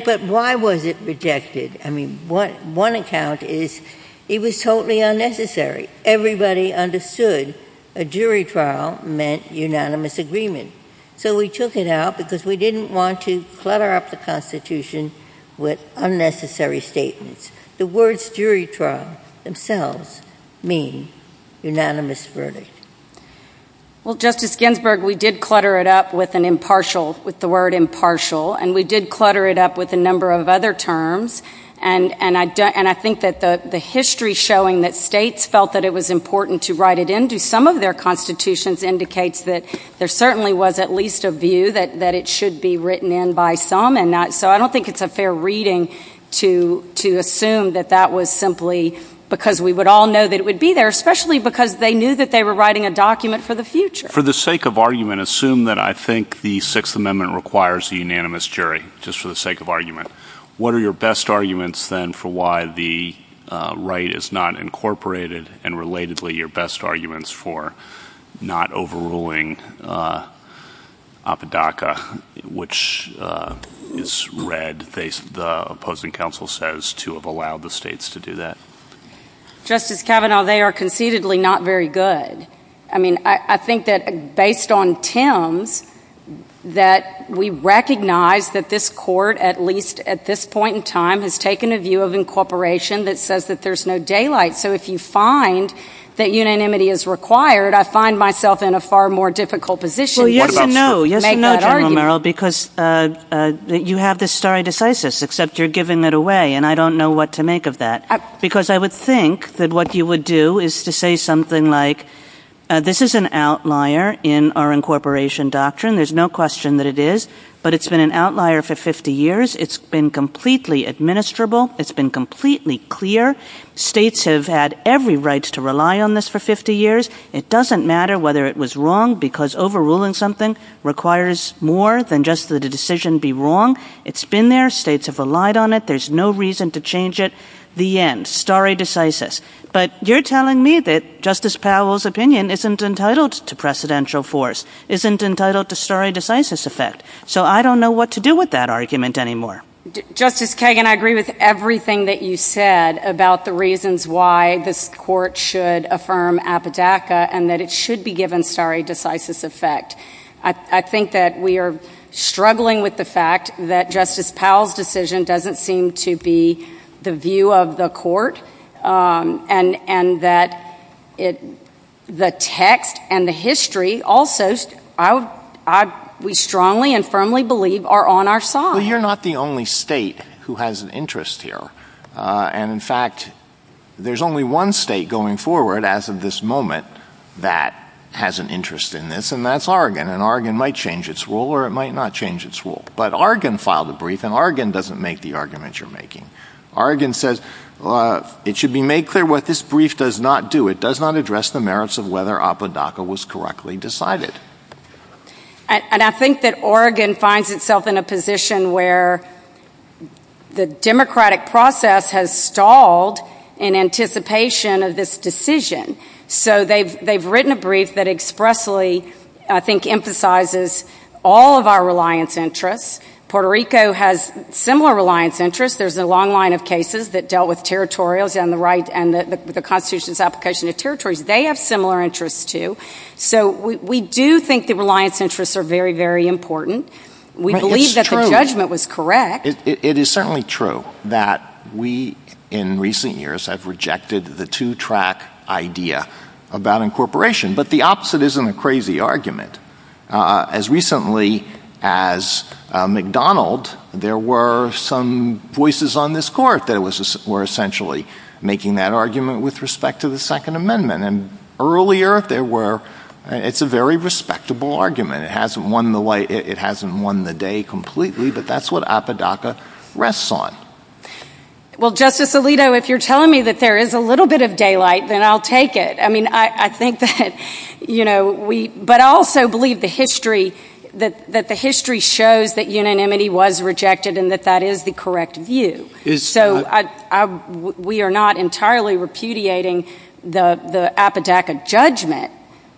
But why was it rejected? I mean, one account is it was totally unnecessary. Everybody understood a jury trial meant unanimous agreement. So we took it out because we didn't want to clutter up the Constitution with unnecessary statements. The words jury trial themselves mean unanimous verdict. Well, Justice Ginsburg, we did clutter it up with an impartial, with the word impartial, and we did clutter it up with a number of other terms. And I think that the history showing that states felt that it was important to write it into some of their constitutions indicates that there certainly was at least a view that it should be written in by some. And so I don't think it's a fair reading to assume that that was simply because we would all know that it would be there, especially because they knew that they were writing a document for the future. For the sake of argument, assume that I think the Sixth Amendment requires a unanimous jury, just for the sake of argument. What are your best arguments, then, for why the right is not incorporated? And relatedly, your best arguments for not overruling Apodaca, which is read, the opposing counsel says, to have allowed the states to do that. Justice Kavanaugh, they are concededly not very good. I mean, I think that based on Tim's, that we recognize that this Court, at least at this point in time, has taken a view of incorporation that says that there's no daylight. So if you find that unanimity is required, I find myself in a far more difficult position than you make that argument. Well, yes and no, General Merrill, because you have this stare decisis, except you're giving it away, and I don't know what to make of that. Because I would think that what you would do is to say something like, this is an outlier in our incorporation doctrine. There's no question that it is. But it's been an outlier for 50 years. It's been completely administrable. It's been completely clear. States have had every right to rely on this for 50 years. It doesn't matter whether it was wrong, because overruling something requires more than just the decision be wrong. It's been there. States have relied on it. There's no reason to change it. The end. Stare decisis. But you're telling me that Justice Powell's opinion isn't entitled to precedential force, isn't entitled to stare decisis effect. So I don't know what to do with that argument anymore. Justice Kagan, I agree with everything that you said about the reasons why this Court should affirm apodaca and that it should be given stare decisis effect. I think that we are struggling with the fact that Justice Powell's decision doesn't seem to be the view of the Court, and that the text and the history also, we strongly and firmly believe that are on our side. You're not the only state who has an interest here. And in fact, there's only one state going forward as of this moment that has an interest in this, and that's Oregon. And Oregon might change its rule or it might not change its rule. But Oregon filed a brief, and Oregon doesn't make the argument you're making. Oregon says it should be made clear what this brief does not do. It does not address the merits of whether apodaca was correctly decided. And I think that Oregon finds itself in a position where the democratic process has stalled in anticipation of this decision. So they've written a brief that expressly, I think, emphasizes all of our reliance interests. Puerto Rico has similar reliance interests. There's a long line of cases that dealt with territorials and the Constitution's application of territories. They have similar interests, too. So we do think that reliance interests are very, very important. We believe that the judgment was correct. It is certainly true that we in recent years have rejected the two-track idea about incorporation. But the opposite isn't a crazy argument. As recently as McDonald, there were some voices on this Court that were essentially making that argument with respect to the Second Amendment. And earlier, it's a very respectable argument. It hasn't won the day completely, but that's what apodaca rests on. Well, Justice Alito, if you're telling me that there is a little bit of daylight, then I'll take it. But I also believe that the history shows that unanimity was rejected and that that is the correct view. So we are not entirely repudiating the apodaca judgment.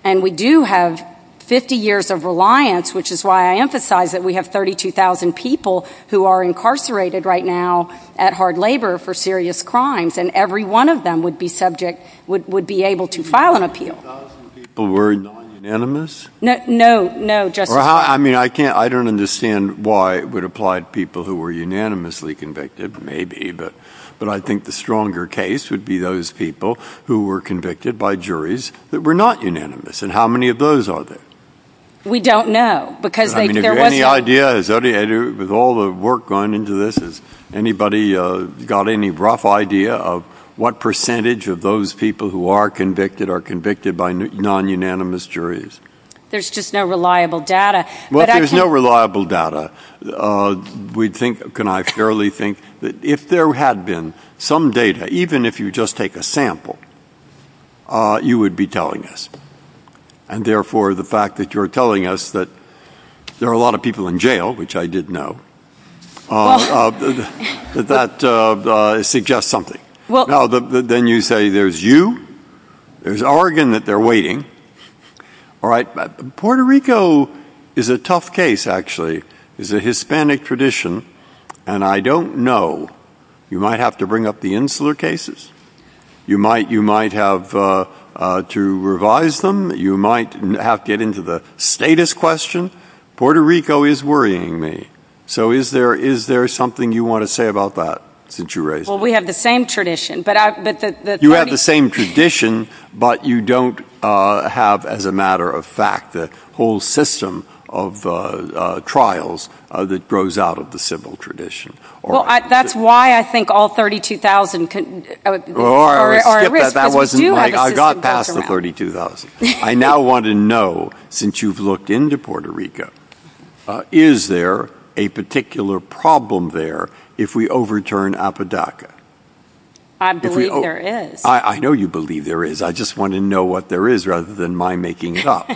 And we do have 50 years of reliance, which is why I emphasize that we have 32,000 people who are incarcerated right now at hard labor for serious crimes. And every one of them would be subject, would be able to file an appeal. 32,000 people were non-unanimous? No, no, Justice Breyer. I don't understand why it would apply to people who were unanimously convicted. Maybe. But I think the stronger case would be those people who were convicted by juries that were not unanimous. And how many of those are there? We don't know. I mean, if you have any idea, with all the work going into this, has anybody got any rough idea of what percentage of those people who are convicted are convicted by non-unanimous juries? There's just no reliable data. Well, if there's no reliable data, we'd think, can I fairly think, that if there had been some data, even if you just take a sample, you would be telling us. And therefore, the fact that you're telling us that there are a lot of people in jail, which I did know, that suggests something. Now, then you say there's you, there's Oregon that they're waiting. All right. Puerto Rico is a tough case, actually. It's a Hispanic tradition. And I don't know. You might have to bring up the Insular cases. You might have to revise them. You might have to get into the status question. Puerto Rico is worrying me. So is there something you want to say about that, since you raised it? Well, we have the same tradition. You have the same tradition, but you don't have, as a matter of fact, the whole system of trials that grows out of the civil tradition. That's why I think all 32,000 are at risk, because we do have a system back around. I got past the 32,000. I now want to know, since you've looked into Puerto Rico, is there a particular problem there if we overturn APODACA? I believe there is. I know you believe there is. I just want to know what there is, rather than my making it up.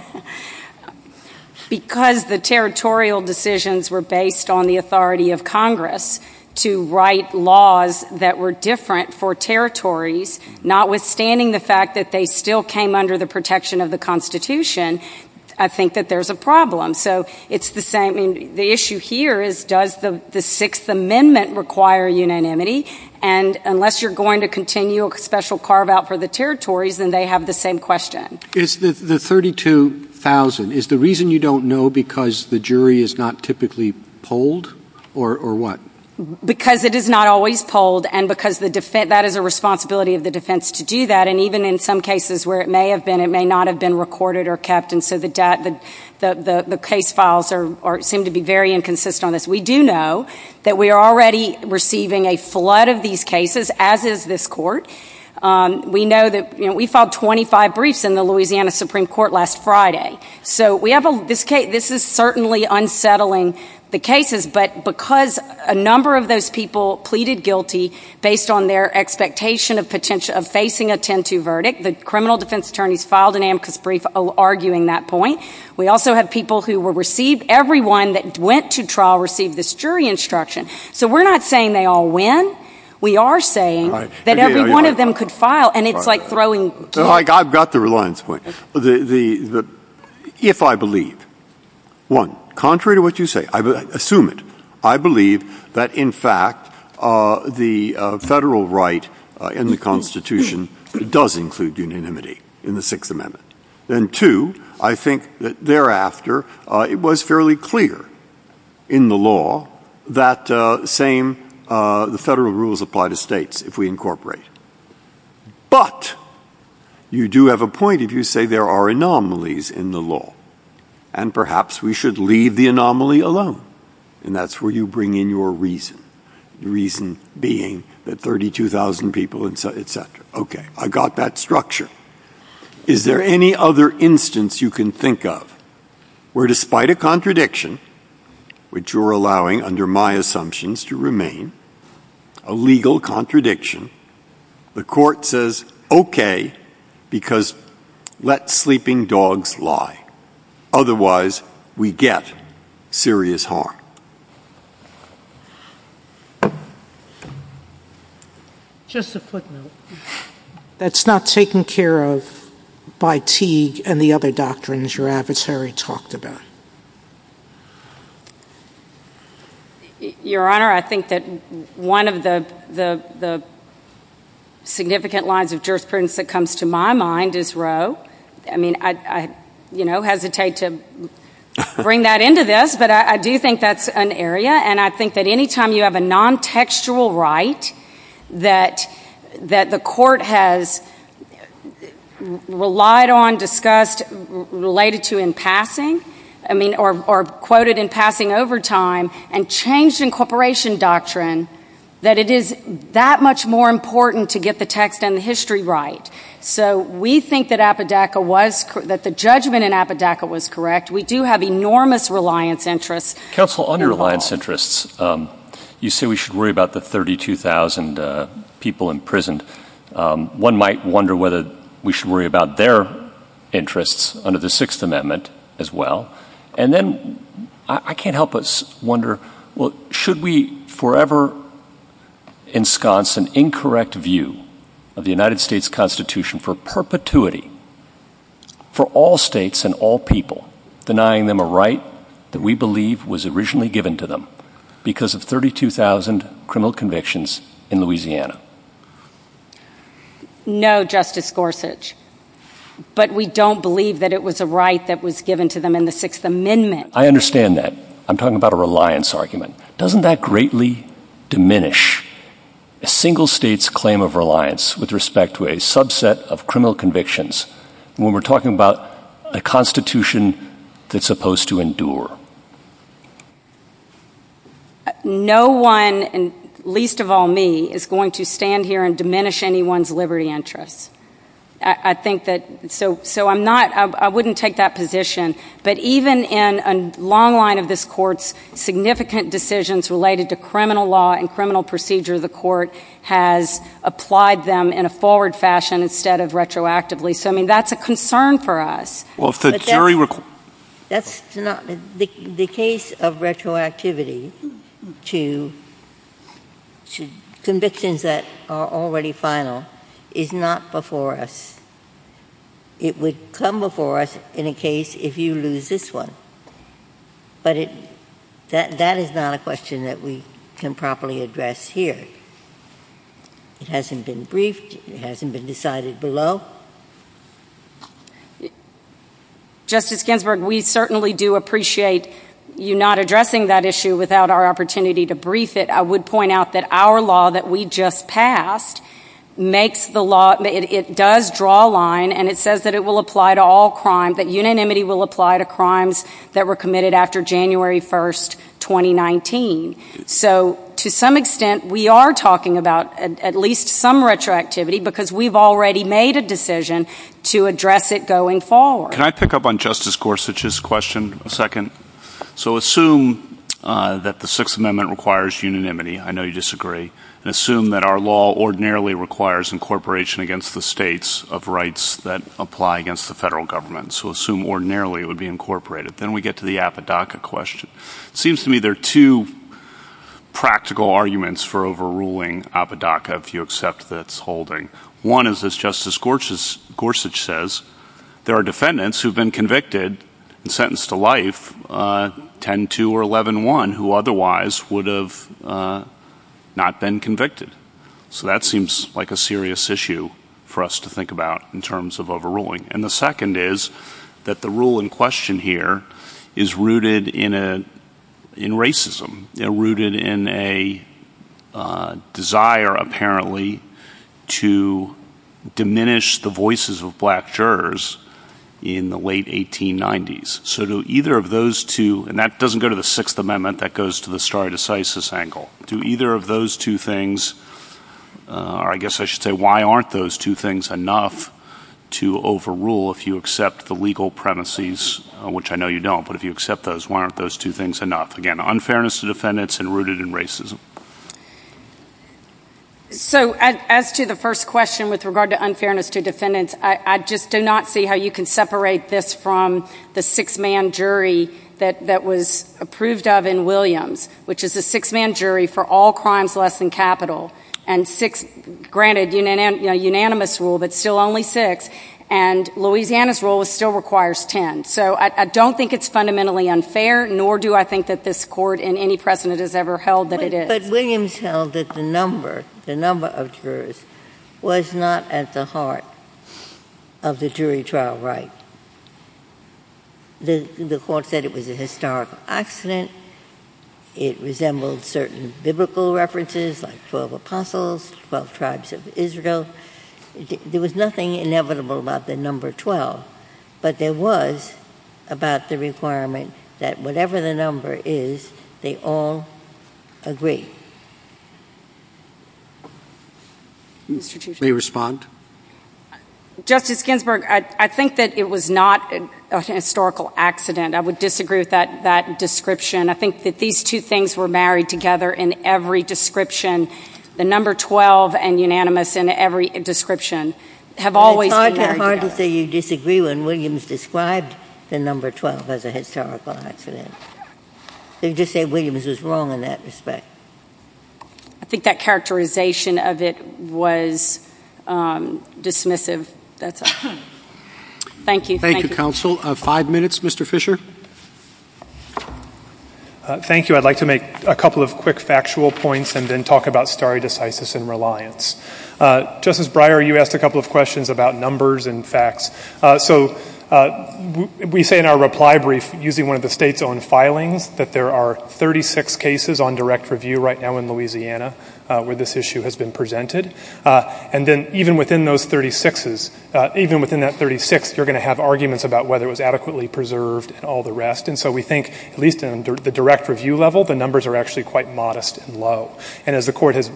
Because the territorial decisions were based on the authority of Congress to write laws that were different for territories, notwithstanding the fact that they still came under the protection of the Constitution, I think that there's a problem. The issue here is, does the Sixth Amendment require unanimity? Unless you're going to continue a special carve-out for the territories, then they have the same question. Is the 32,000 the reason you don't know, because the jury is not typically polled, or what? Because it is not always polled, and because that is a responsibility of the defense to not have been recorded or kept, and so the case files seem to be very inconsistent. We do know that we are already receiving a flood of these cases, as is this Court. We filed 25 briefs in the Louisiana Supreme Court last Friday. This is certainly unsettling the cases, but because a number of those people pleaded guilty based on their expectation of facing a 10-2 verdict, the criminal defense attorneys filed an amicus brief arguing that point. We also have people who were received — everyone that went to trial received this jury instruction. So we're not saying they all win. We are saying that every one of them could file, and it's like throwing — I've got the reliance point. If I believe, one, contrary to what you say, assume it, I believe that, in fact, the federal right in the Constitution does include unanimity in the Sixth Amendment, and two, I think that thereafter it was fairly clear in the law that the same — the federal rules apply to states if we incorporate. But you do have a point if you say there are anomalies in the law, and perhaps we should leave the anomaly alone, and that's where you bring in your reason, the reason being that 32,000 people, et cetera. Okay. I've got that structure. Is there any other instance you can think of where, despite a contradiction, which you're allowing under my assumptions to remain, a legal contradiction, the court says, okay, because let sleeping dogs lie. Otherwise, we get serious harm. Just a footnote. That's not taken care of by Teague and the other doctrines your adversary talked about. Your Honor, I think that one of the significant lines of jurisprudence that comes to my mind is Roe. I hesitate to bring that into this, but I do think that's an area, and I think that any time you have a non-textual right that the court has relied on, discussed, related to in passing, or quoted in passing over time, and changed incorporation doctrine, that it is that much more important to get the text and the history right. So we think that Apodaca was, that the judgment in Apodaca was correct. We do have enormous reliance interests. Counsel, under reliance interests, you say we should worry about the 32,000 people imprisoned. One might wonder whether we should worry about their interests under the Sixth Amendment as well. And then, I can't help but wonder, should we forever ensconce an incorrect view of the United States Constitution for perpetuity for all states and all people, denying them a right that we believe was originally given to them because of 32,000 criminal convictions in Louisiana? No, Justice Gorsuch. But we don't believe that it was a right that was given to them in the Sixth Amendment. I understand that. I'm talking about a reliance argument. Doesn't that greatly diminish a single state's claim of reliance with respect to a subset of criminal convictions when we're talking about a crime? No one, least of all me, is going to stand here and diminish anyone's liberty interests. So I'm not, I wouldn't take that position. But even in a long line of this Court's significant decisions related to criminal law and criminal procedure, the Court has applied them in a forward fashion instead of retroactively. So I mean, that's a concern for us. Well, if the jury were... That's not, the case of retroactivity to convictions that are already final is not before us. It would come before us in a case if you lose this one. But that is not a question that we can properly address here. It hasn't been briefed. It hasn't been decided below. Justice Ginsburg, we certainly do appreciate you not addressing that issue without our opportunity to brief it. I would point out that our law that we just passed makes the law, it does draw a line, and it says that it will apply to all crime, that unanimity will apply to crimes that were committed after January 1st, 2019. So to some extent, we are talking about at least some retroactivity because we've already made a decision to address it going forward. Can I pick up on Justice Gorsuch's question a second? So assume that the Sixth Amendment requires unanimity. I know you disagree. And assume that our law ordinarily requires incorporation against the states of rights that apply against the federal government. So assume ordinarily it would be incorporated. Then we get to the Apodaca question. Seems to me there are two practical arguments for overruling Apodaca, if you accept that it's holding. One is, as Justice Gorsuch says, there are defendants who have been convicted and sentenced to life 10-2 or 11-1 who otherwise would have not been convicted. So that seems like a serious issue for us to think about in terms of overruling. And the second is that the rule in question here is rooted in racism. Rooted in a desire, apparently, to diminish the power of the state and diminish the voices of black jurors in the late 1890s. So do either of those two – and that doesn't go to the Sixth Amendment. That goes to the stare decisis angle. Do either of those two things – or I guess I should say, why aren't those two things enough to overrule if you accept the legal premises, which I know you don't. But if you accept those, why aren't those two things enough? Again, unfairness to defendants and rooted in racism. So, as to the first question with regard to unfairness to defendants, I just do not see how you can separate this from the six-man jury that was approved of in Williams, which is a six-man jury for all crimes less than capital. And granted, unanimous rule, but still only six. And Louisiana's rule still requires 10. So I don't think it's fundamentally unfair, nor do I think that this Court in any precedent has ever held that it is. But Williams held that the number, the number of jurors, was not at the heart of the jury trial right. The Court said it was a historical accident. It resembled certain biblical references like 12 apostles, 12 tribes of Israel. There was nothing inevitable about the number 12. But there was about the requirement that whatever the number is, they all agree. Mr. Chief Justice. May I respond? Justice Ginsburg, I think that it was not an historical accident. I would disagree with that description. I think that these two things were married together in every description. The number 12 and unanimous in every description have always been married together. It's hard to say you disagree when Williams described the number 12 as a historical accident. They just say Williams was wrong in that respect. I think that characterization of it was dismissive. That's all. Thank you. Thank you, Counsel. Five minutes, Mr. Fisher. Thank you. I'd like to make a couple of quick factual points and then talk about stare decisis and reliance. Justice Breyer, you asked a couple of questions about numbers and facts. We say in our reply brief, using one of the state's own filings, that there are 36 cases on direct review right now in Louisiana where this issue has been presented. Then even within those 36s, even within that 36, you're going to have arguments about whether it was adequately preserved and all the rest. We think, at least in the direct review level, the numbers are actually quite modest and low. As the Court has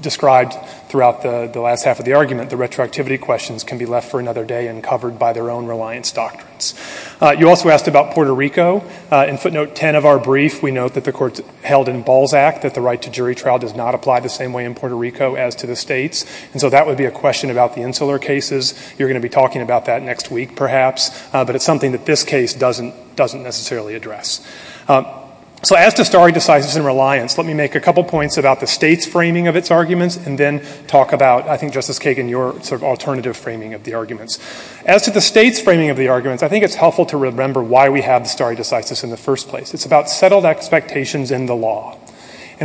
described throughout the last half of the argument, the retroactivity questions can be left for another day and covered by their own reliance doctrines. You also asked about Puerto Rico. In footnote 10 of our brief, we note that the Court held in Balzac that the right to jury trial does not apply the same way in Puerto Rico as to the states. That would be a question about the Insular cases. You're going to be talking about that next week, perhaps, but it's something that this case doesn't necessarily address. As to stare decisis and reliance, let me make a couple of points about the state's framing of its arguments and then talk about, I think, Justice Kagan, your alternative framing of the arguments. As to the state's framing of the arguments, I think it's helpful to remember why we have the stare decisis in the first place. It's about settled expectations in the law.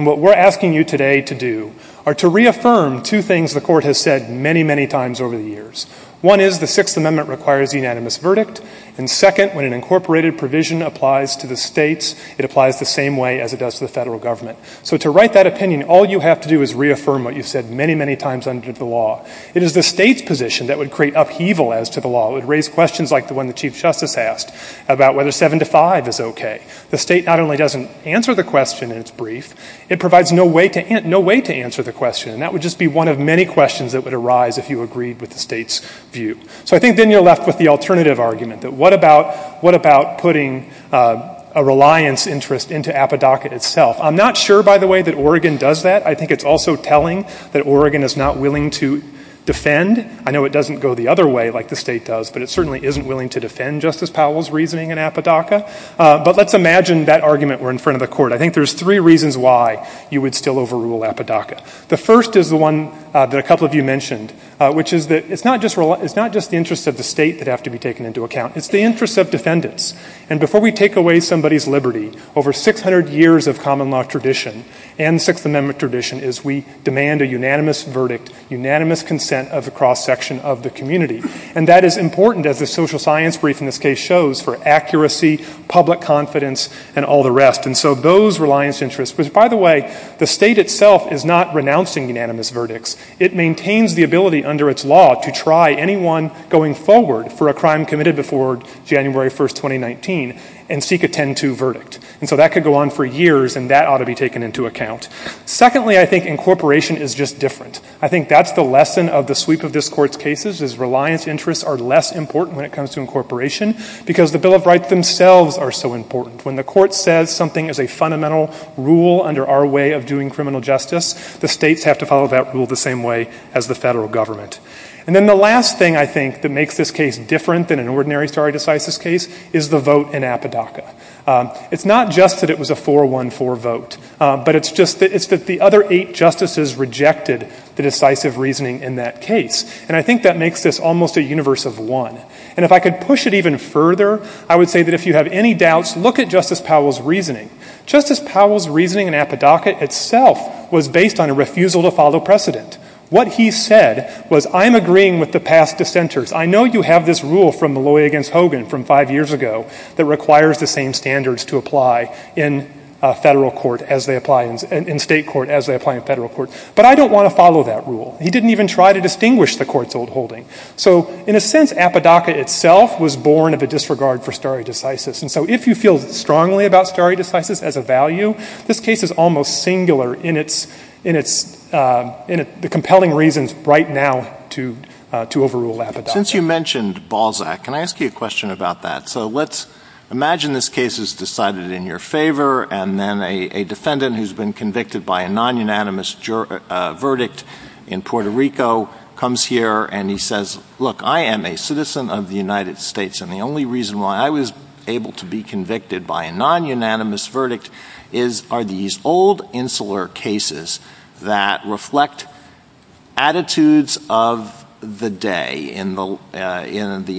What we're asking you today to do are to reaffirm two things the Court has said many, many times over the years. One is the Sixth Amendment requires unanimous verdict. Second, when an argument is made to the states, it applies the same way as it does to the federal government. So to write that opinion, all you have to do is reaffirm what you've said many, many times under the law. It is the state's position that would create upheaval as to the law. It would raise questions like the one the Chief Justice asked about whether seven to five is okay. The state not only doesn't answer the question in its brief, it provides no way to answer the question. And that would just be one of many questions that would arise if you agreed with the state's view. So I think then you're left with the alternative argument, that what about putting a reliance interest into Appadokia itself? I'm not sure, by the way, that Oregon does that. I think it's also telling that Oregon is not willing to defend. I know it doesn't go the other way like the state does, but it certainly isn't willing to defend Justice Powell's reasoning in Appadokia. But let's imagine that argument were in front of the Court. I think there's three reasons why you would still overrule Appadokia. The first is the one a couple of you mentioned, which is that it's not just the interest of the state that have to be taken into account. It's the interest of defendants. And before we take away somebody's liberty, over 600 years of common law tradition and Sixth Amendment tradition is we demand a unanimous verdict, unanimous consent of the cross-section of the community. And that is important as the social science brief in this case shows for accuracy, public confidence, and all the rest. And so those reliance interests, which by the way, the state itself is not reliant, maintains the ability under its law to try anyone going forward for a crime committed before January 1st, 2019 and seek a 10-2 verdict. And so that could go on for years and that ought to be taken into account. Secondly, I think incorporation is just different. I think that's the lesson of the sweep of this Court's cases is reliance interests are less important when it comes to incorporation because the Bill of Rights themselves are so important. When the Court says something is a fundamental rule under our way of doing criminal justice, the states have to follow that rule the same way as the federal government. And then the last thing I think that makes this case different than an ordinary stare decisis case is the vote in Apodaca. It's not just that it was a 4-1-4 vote, but it's just that the other eight justices rejected the decisive reasoning in that case. And I think that makes this almost a universe of one. And if I could push it even further, I would say that if you have any doubts, look at Justice Powell's reasoning. Justice Powell's was based on a refusal to follow precedent. What he said was, I'm agreeing with the past dissenters. I know you have this rule from Malloy against Hogan from five years ago that requires the same standards to apply in federal court as they apply in state court as they apply in federal court. But I don't want to follow that rule. He didn't even try to distinguish the Court's old holding. So in a sense, Apodaca itself was born of a disregard for stare decisis. And so if you feel strongly about stare decisis as a value, this case is almost singular in its compelling reasons right now to overrule Apodaca. Since you mentioned Balzac, can I ask you a question about that? So let's imagine this case is decided in your favor and then a defendant who's been convicted by a non-unanimous verdict in Puerto Rico comes here and he says, look, I am a citizen of the United States. And the only reason why I was able to be convicted by a non-unanimous verdict is are these old insular cases that reflect attitudes of the day in the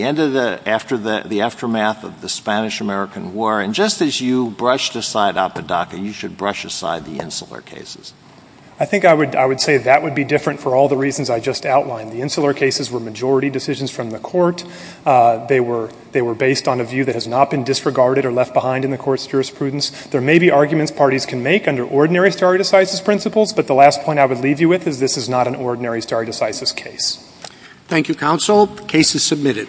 end of the aftermath of the Spanish-American War? And just as you brushed aside Apodaca, you should brush aside the insular cases. I think I would say that would be different for all the reasons I just outlined. The insular cases were majority decisions from the Court. They were based on a view that has not been disregarded or left behind in the Court's jurisprudence. There may be arguments parties can make under ordinary stare decisis principles, but the last point I would leave you with is this is not an ordinary stare decisis case. Thank you, counsel. The case is submitted.